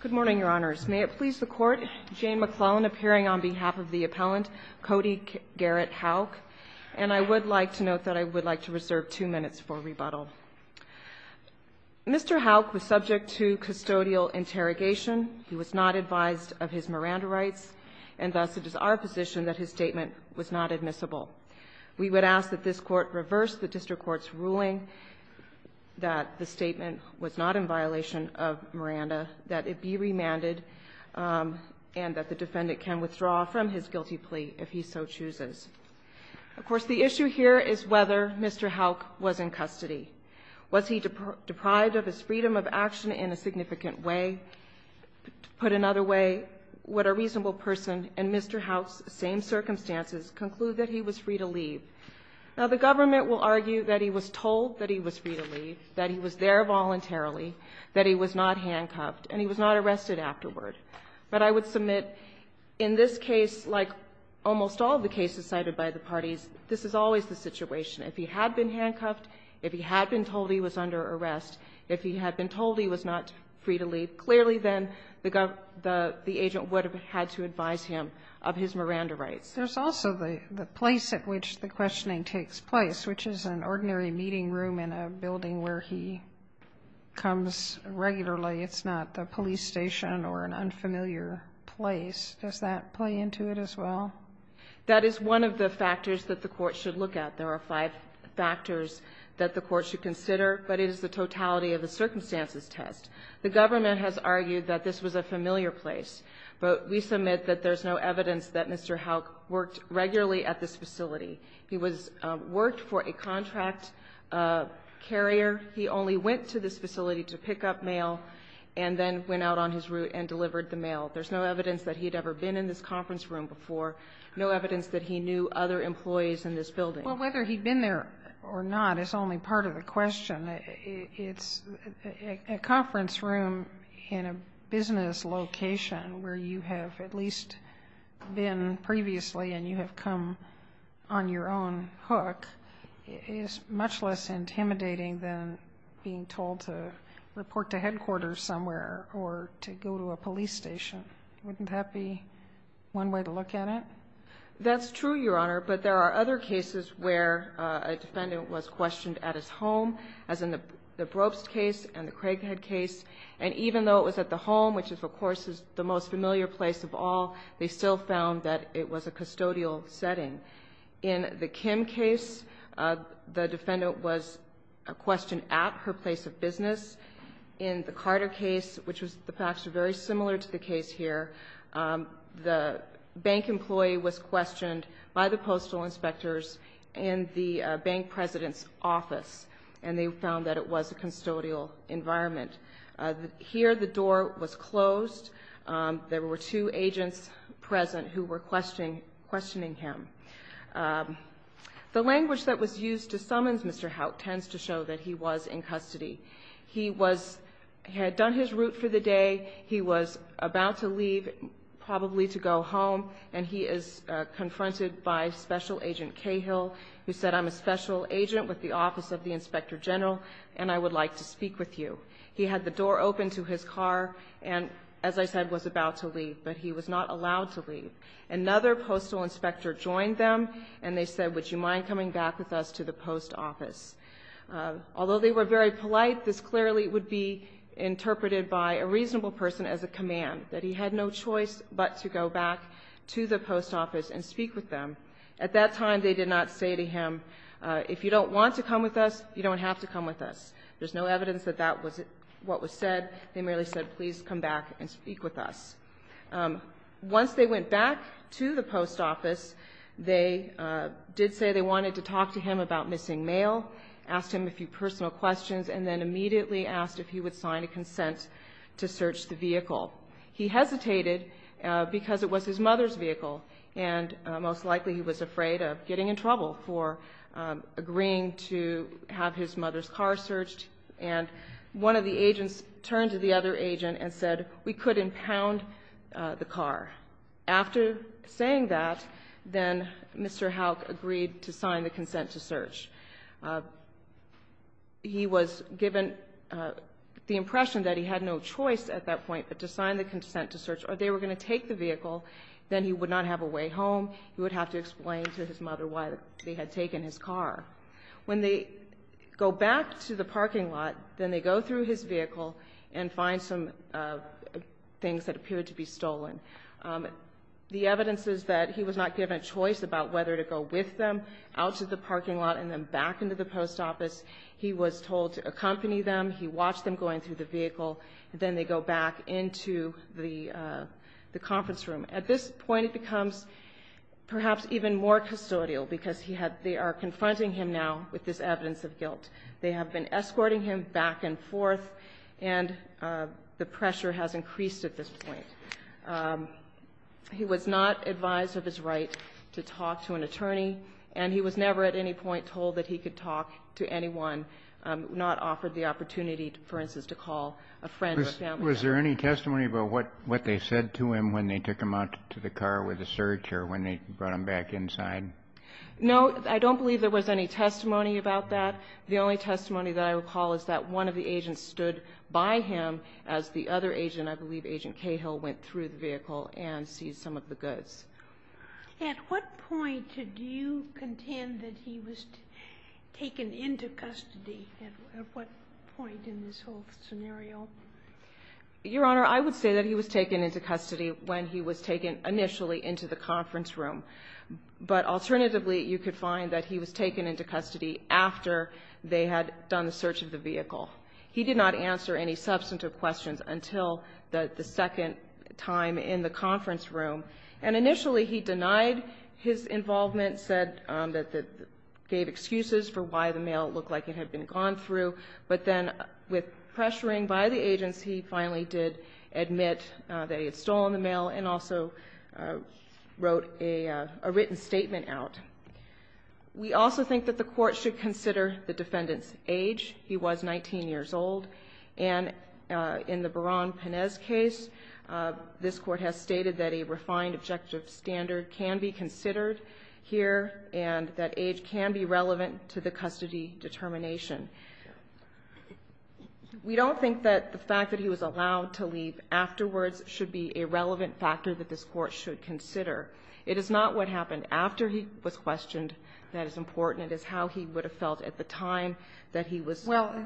Good morning, Your Honors. May it please the Court, Jane McClellan appearing on behalf of the appellant, Kody Garrett Houk, and I would like to note that I would like to reserve two minutes for rebuttal. Mr. Houk was subject to custodial interrogation. He was not advised of his Miranda rights, and thus it is our position that his statement was not admissible. We would ask that this Court reverse the district court's ruling that the statement was not in violation of Miranda, that it be remanded, and that the defendant can withdraw from his guilty plea if he so chooses. Of course, the issue here is whether Mr. Houk was in custody. Was he deprived of his freedom of action in a significant way? To put it another way, would a reasonable person in Mr. Houk's same circumstances conclude that he was free to leave? Now, the government will argue that he was told that he was free to leave, that he was there voluntarily, that he was not handcuffed, and he was not arrested afterward. But I would submit in this case, like almost all the cases cited by the parties, this is always the situation. If he had been handcuffed, if he had been told he was under arrest, if he had been told he was not free to leave, clearly then the agent would have had to advise him of his Miranda rights. There's also the place at which the questioning takes place, which is an ordinary meeting room in a building where he comes regularly. It's not the police station or an unfamiliar place. Does that play into it as well? That is one of the factors that the Court should look at. There are five factors that the Court should consider, but it is the totality of the circumstances test. The government has argued that this was a familiar place, but we submit that there's no evidence that Mr. Houck worked regularly at this facility. He worked for a contract carrier. He only went to this facility to pick up mail and then went out on his route and delivered the mail. There's no evidence that he had ever been in this conference room before, no evidence that he knew other employees in this building. Well, whether he'd been there or not is only part of the question. It's a conference room in a business location where you have at least been previously and you have come on your own hook is much less intimidating than being told to report to headquarters somewhere or to go to a police station. Wouldn't that be one way to look at it? That's true, Your Honor, but there are other cases where a defendant was questioned at his home, as in the Brobst case and the Craighead case, and even though it was at the home, which of course is the most familiar place of all, they still found that it was a custodial setting. In the Kim case, the defendant was questioned at her place of business. In the Carter case, which was in fact very similar to the case here, the bank employee was questioned by the postal inspectors in the bank president's office, and they found that it was a custodial environment. Here, the door was closed. There were two agents present who were questioning him. The language that was used to summons Mr. Haut tends to show that he was in custody. He had done his route for the day. He was about to leave, probably to go home, and he is confronted by Special Agent Cahill, who said, I'm a special agent with the Office of the Inspector General, and I would like to speak with you. He had the door open to his car and, as I said, was about to leave, but he was not allowed to leave. Another postal inspector joined them, and they said, would you mind coming back with us to the post office? Although they were very polite, this clearly would be interpreted by a reasonable person as a command, that he had no choice but to go back to the post office and speak with them. At that time, they did not say to him, if you don't want to come with us, you don't have to come with us. There's no evidence that that was what was said. They merely said, please come back and speak with us. Once they went back to the post office, they did say they wanted to talk to him about missing mail, asked him a few personal questions, and then immediately asked if he would sign a consent to search the vehicle. He hesitated because it was his mother's vehicle, and most likely he was afraid of getting in trouble for agreeing to have his mother's car searched. And one of the agents turned to the other agent and said, we couldn't pound the car. After saying that, then Mr. Houck agreed to sign the consent to search. He was given the impression that he had no choice at that point but to sign the consent to search, or they were going to take the vehicle. Then he would not have a way home. He would have to explain to his mother why they had taken his car. When they go back to the parking lot, then they go through his vehicle and find some things that appeared to be stolen. The evidence is that he was not given a choice about whether to go with them out to the parking lot and then back into the post office. He was told to accompany them. He watched them going through the vehicle. Then they go back into the conference room. At this point, it becomes perhaps even more custodial because they are confronting him now with this evidence of guilt. They have been escorting him back and forth, and the pressure has increased at this point. He was not advised of his right to talk to an attorney, and he was never at any point told that he could talk to anyone, not offered the opportunity, for instance, to call a friend or family member. Was there any testimony about what they said to him when they took him out to the car with the search or when they brought him back inside? No. I don't believe there was any testimony about that. The only testimony that I recall is that one of the agents stood by him as the other agent, I believe Agent Cahill, went through the vehicle and seized some of the goods. At what point do you contend that he was taken into custody at what point in this whole scenario? Your Honor, I would say that he was taken into custody when he was taken initially into the conference room. But alternatively, you could find that he was taken into custody after they had done the search of the vehicle. He did not answer any substantive questions until the second time in the conference room. And initially he denied his involvement, said that he gave excuses for why the mail looked like it had been gone through. But then with pressuring by the agents, he finally did admit that he had stolen the We also think that the Court should consider the defendant's age. He was 19 years old. And in the Baran-Panez case, this Court has stated that a refined objective standard can be considered here and that age can be relevant to the custody determination. We don't think that the fact that he was allowed to leave afterwards should be a relevant factor that this Court should consider. It is not what happened after he was questioned that is important. It is how he would have felt at the time that he was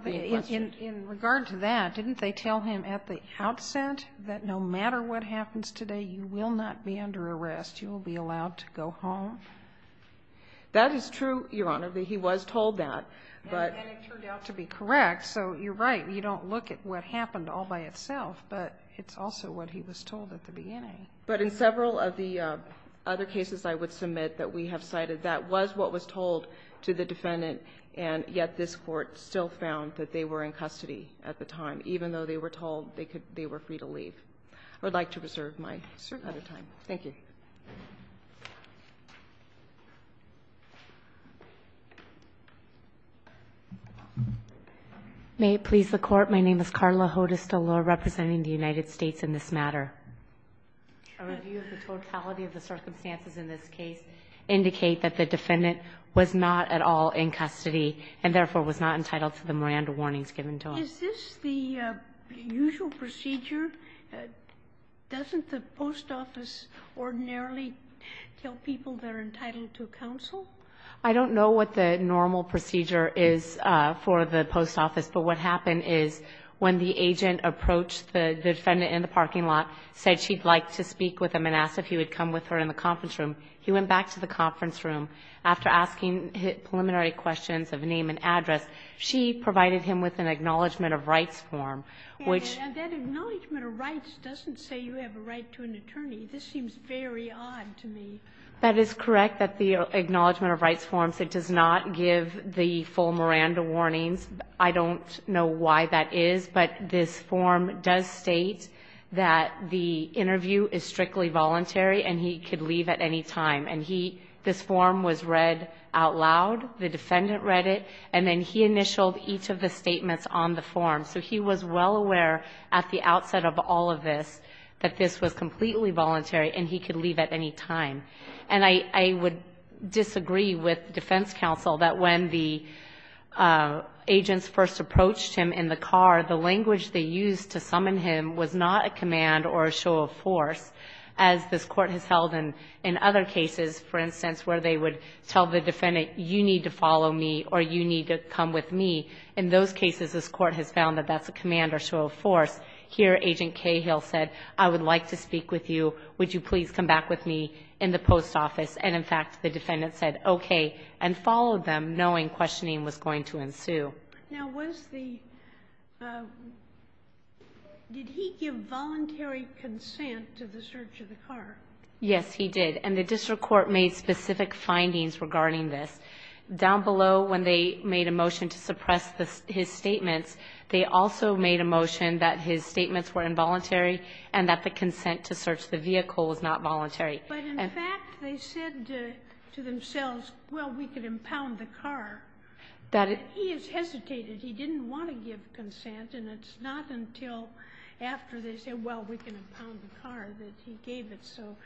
being questioned. Well, in regard to that, didn't they tell him at the outset that no matter what happens today, you will not be under arrest? You will be allowed to go home? That is true, Your Honor. He was told that. And it turned out to be correct. So you're right. You don't look at what happened all by itself. But it's also what he was told at the beginning. But in several of the other cases I would submit that we have cited, that was what was told to the defendant, and yet this Court still found that they were in custody at the time, even though they were told they were free to leave. I would like to reserve my time. Thank you. May it please the Court. My name is Carla Hodes Delor representing the United States in this matter. A review of the totality of the circumstances in this case indicate that the defendant was not at all in custody and therefore was not entitled to the Miranda warnings given to him. Is this the usual procedure? Doesn't the post office ordinarily tell people they're entitled to counsel? I don't know what the normal procedure is for the post office. But what happened is when the agent approached the defendant in the parking lot, said she'd like to speak with him and asked if he would come with her in the conference room, he went back to the conference room. After asking preliminary questions of name and address, she provided him with an acknowledgment of rights form, which ---- And that acknowledgment of rights doesn't say you have a right to an attorney. This seems very odd to me. That is correct, that the acknowledgment of rights form does not give the full Miranda warnings. I don't know why that is. But this form does state that the interview is strictly voluntary and he could leave at any time. And he ---- this form was read out loud. The defendant read it. And then he initialed each of the statements on the form. So he was well aware at the outset of all of this that this was completely voluntary and he could leave at any time. And I would disagree with defense counsel that when the agents first approached him in the car, the language they used to summon him was not a command or a show of force, as this Court has held in other cases, for instance, where they would tell the defendant, you need to follow me or you need to come with me. In those cases, this Court has found that that's a command or show of force. Here, Agent Cahill said, I would like to speak with you. Would you please come back with me in the post office? And, in fact, the defendant said, okay, and followed them, knowing questioning was going to ensue. Sotomayor Now, was the ---- did he give voluntary consent to the search of the car? Yes, he did. And the district court made specific findings regarding this. Down below, when they made a motion to suppress his statements, they also made a motion that his statements were involuntary and that the consent to search the vehicle was not voluntary. But, in fact, they said to themselves, well, we can impound the car. He has hesitated. He didn't want to give consent. And it's not until after they said, well, we can impound the car, that he gave it. So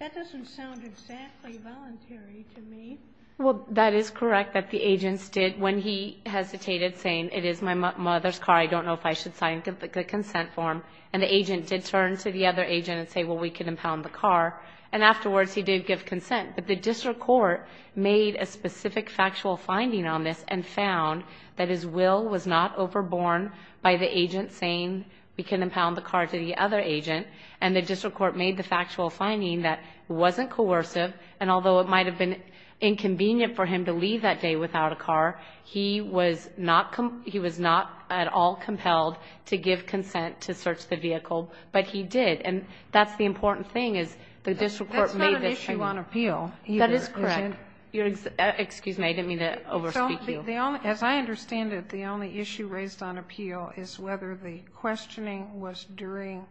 that doesn't sound exactly voluntary to me. Well, that is correct, that the agents did, when he hesitated, saying, it is my mother's car. I don't know if I should sign the consent form. And the agent did turn to the other agent and say, well, we can impound the car. And afterwards, he did give consent. But the district court made a specific factual finding on this and found that his will was not overborne by the agent saying we can impound the car to the other agent. And the district court made the factual finding that it wasn't coercive, and although it might have been inconvenient for him to leave that day without a car, he was not at all compelled to give consent to search the vehicle. But he did. And that's the important thing, is the district court made this finding. That's not an issue on appeal, either, is it? That is correct. Excuse me. I didn't mean to overspeak you. As I understand it, the only issue raised on appeal is whether the questioning was during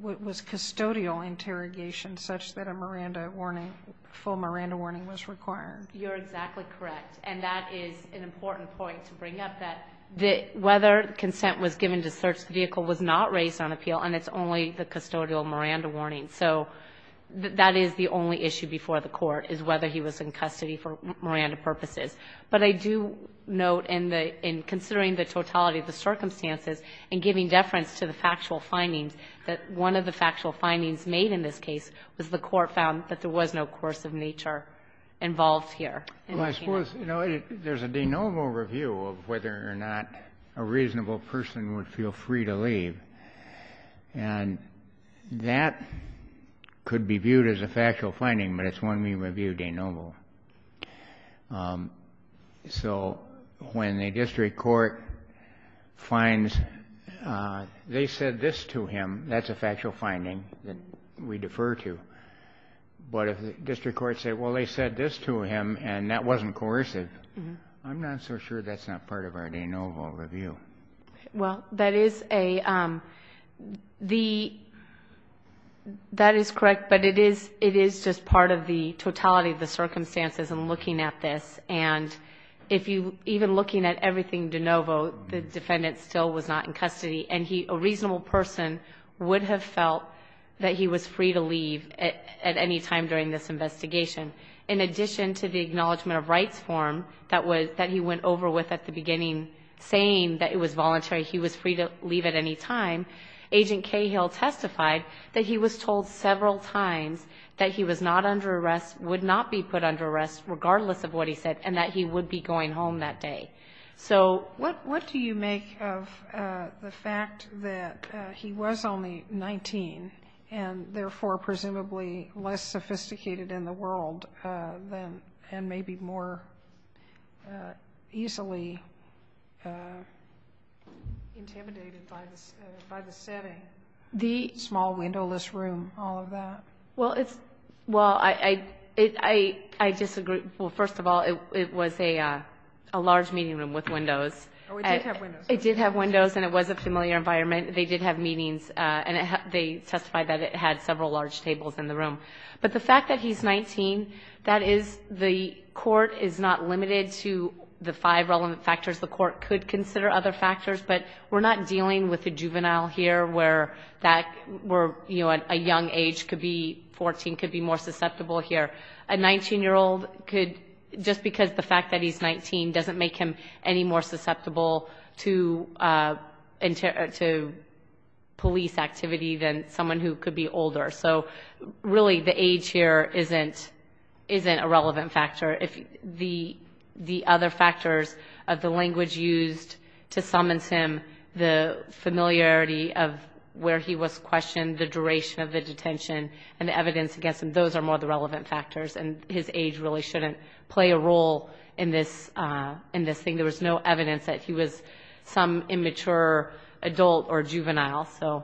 what was custodial interrogation, such that a Miranda warning, full Miranda warning was required. You're exactly correct. And that is an important point to bring up, that whether consent was given to search the vehicle was not raised on appeal, and it's only the custodial Miranda warning. So that is the only issue before the Court, is whether he was in custody for Miranda purposes. But I do note in the — in considering the totality of the circumstances and giving deference to the factual findings, that one of the factual findings made in this case was the Court found that there was no coercive nature involved here. Well, I suppose, you know, there's a de novo review of whether or not a reasonable person would feel free to leave. And that could be viewed as a factual finding, but it's one we review de novo. So when the district court finds they said this to him, that's a factual finding that we defer to. But if the district court said, well, they said this to him and that wasn't coercive, I'm not so sure that's not part of our de novo review. Well, that is a — the — that is correct, but it is — it is just part of the totality of the circumstances in looking at this. And if you — even looking at everything de novo, the defendant still was not in custody, and he — a reasonable person would have felt that he was free to leave at any time during this investigation. In addition to the acknowledgment of rights form that was — that he went over with at the beginning, saying that it was voluntary, he was free to leave at any time, Agent Cahill testified that he was told several times that he was not under arrest, would not be put under arrest, regardless of what he said, and that he would be going home that day. So — What — what do you make of the fact that he was only 19 and, therefore, presumably less sophisticated in the world than — and maybe more easily intimidated by the — by the setting? The — Small windowless room, all of that. Well, it's — well, I — I disagree. Well, first of all, it was a large meeting room with windows. Oh, it did have windows. It did have windows, and it was a familiar environment. They did have meetings, and they testified that it had several large tables in the room. But the fact that he's 19, that is — the court is not limited to the five relevant factors. The court could consider other factors, but we're not dealing with a juvenile here where that — where, you know, a young age could be 14, could be more susceptible here. A 19-year-old could — just because the fact that he's 19 doesn't make him any more susceptible to — to police activity than someone who could be older. So, really, the age here isn't — isn't a relevant factor. If the — the other factors of the language used to summons him, the familiarity of where he was questioned, the duration of the detention, and the evidence against him, those are more the relevant factors, and his age really shouldn't play a role in this — in this thing. There was no evidence that he was some immature adult or juvenile, so.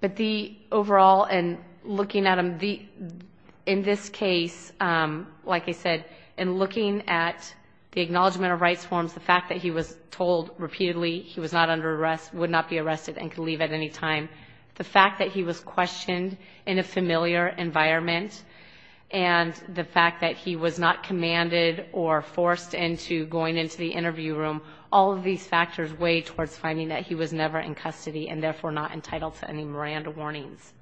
But the — overall, in looking at him, the — in this case, like I said, in looking at the acknowledgment of rights forms, the fact that he was told repeatedly he was not under arrest, would not be arrested, and could leave at any time, the fact that he was in a familiar environment, and the fact that he was not commanded or forced into going into the interview room, all of these factors weigh towards finding that he was never in custody and, therefore, not entitled to any Miranda warnings.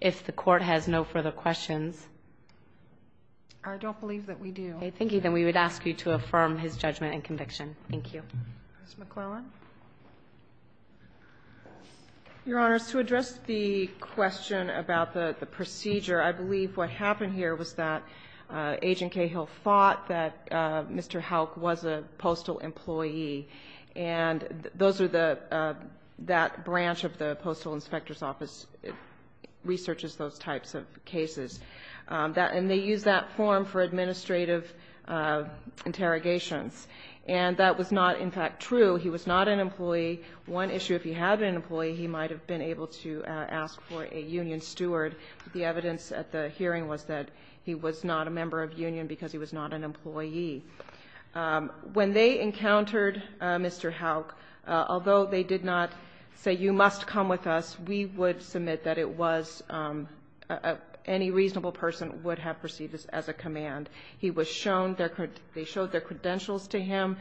If the Court has no further questions. Kagan. I don't believe that we do. Okay. Thank you. Then we would ask you to affirm his judgment and conviction. Thank you. Ms. McClellan. Your Honors, to address the question about the procedure, I believe what happened here was that Agent Cahill thought that Mr. Houck was a postal employee, and those are the — that branch of the Postal Inspector's Office researches those types of cases. And they use that form for administrative interrogations. And that was not, in fact, true. He was not an employee. One issue, if he had been an employee, he might have been able to ask for a union steward. The evidence at the hearing was that he was not a member of union because he was not an employee. When they encountered Mr. Houck, although they did not say, you must come with us, we would submit that it was — any reasonable person would have perceived this as a command. He was shown their — they showed their credentials to him.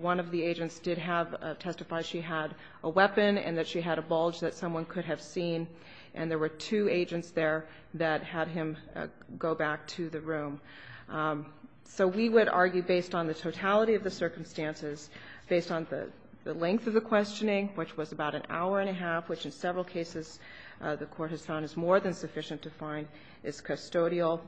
One of the agents did have — testified she had a weapon and that she had a bulge that someone could have seen. And there were two agents there that had him go back to the room. So we would argue, based on the totality of the circumstances, based on the length of the questioning, which was about an hour and a half, which in several cases the Court has found is more than sufficient to find, is custodial.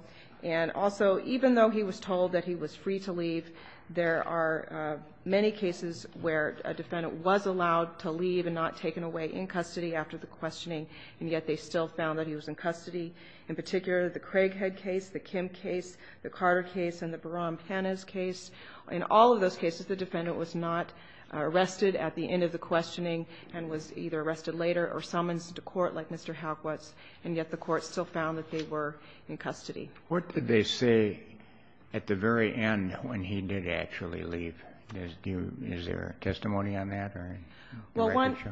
And also, even though he was told that he was free to leave, there are many cases where a defendant was allowed to leave and not taken away in custody after the questioning, and yet they still found that he was in custody. In particular, the Craighead case, the Kim case, the Carter case, and the Baran-Panez case, in all of those cases the defendant was not arrested at the end of the questioning and was either arrested later or summoned to court like Mr. Houck was, and yet the Court still found that they were in custody. What did they say at the very end when he did actually leave? Is there a testimony on that or a record show? Well, one —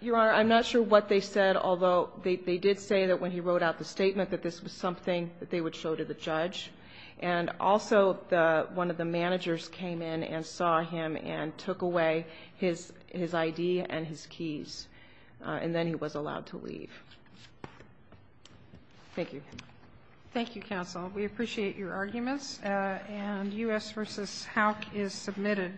Your Honor, I'm not sure what they said, although they did say that when he wrote out the statement that this was something that they would show to the judge. And also, one of the managers came in and saw him and took away his ID and his keys, and then he was allowed to leave. Thank you. Thank you, counsel. We appreciate your arguments. And U.S. v. Houck is submitted.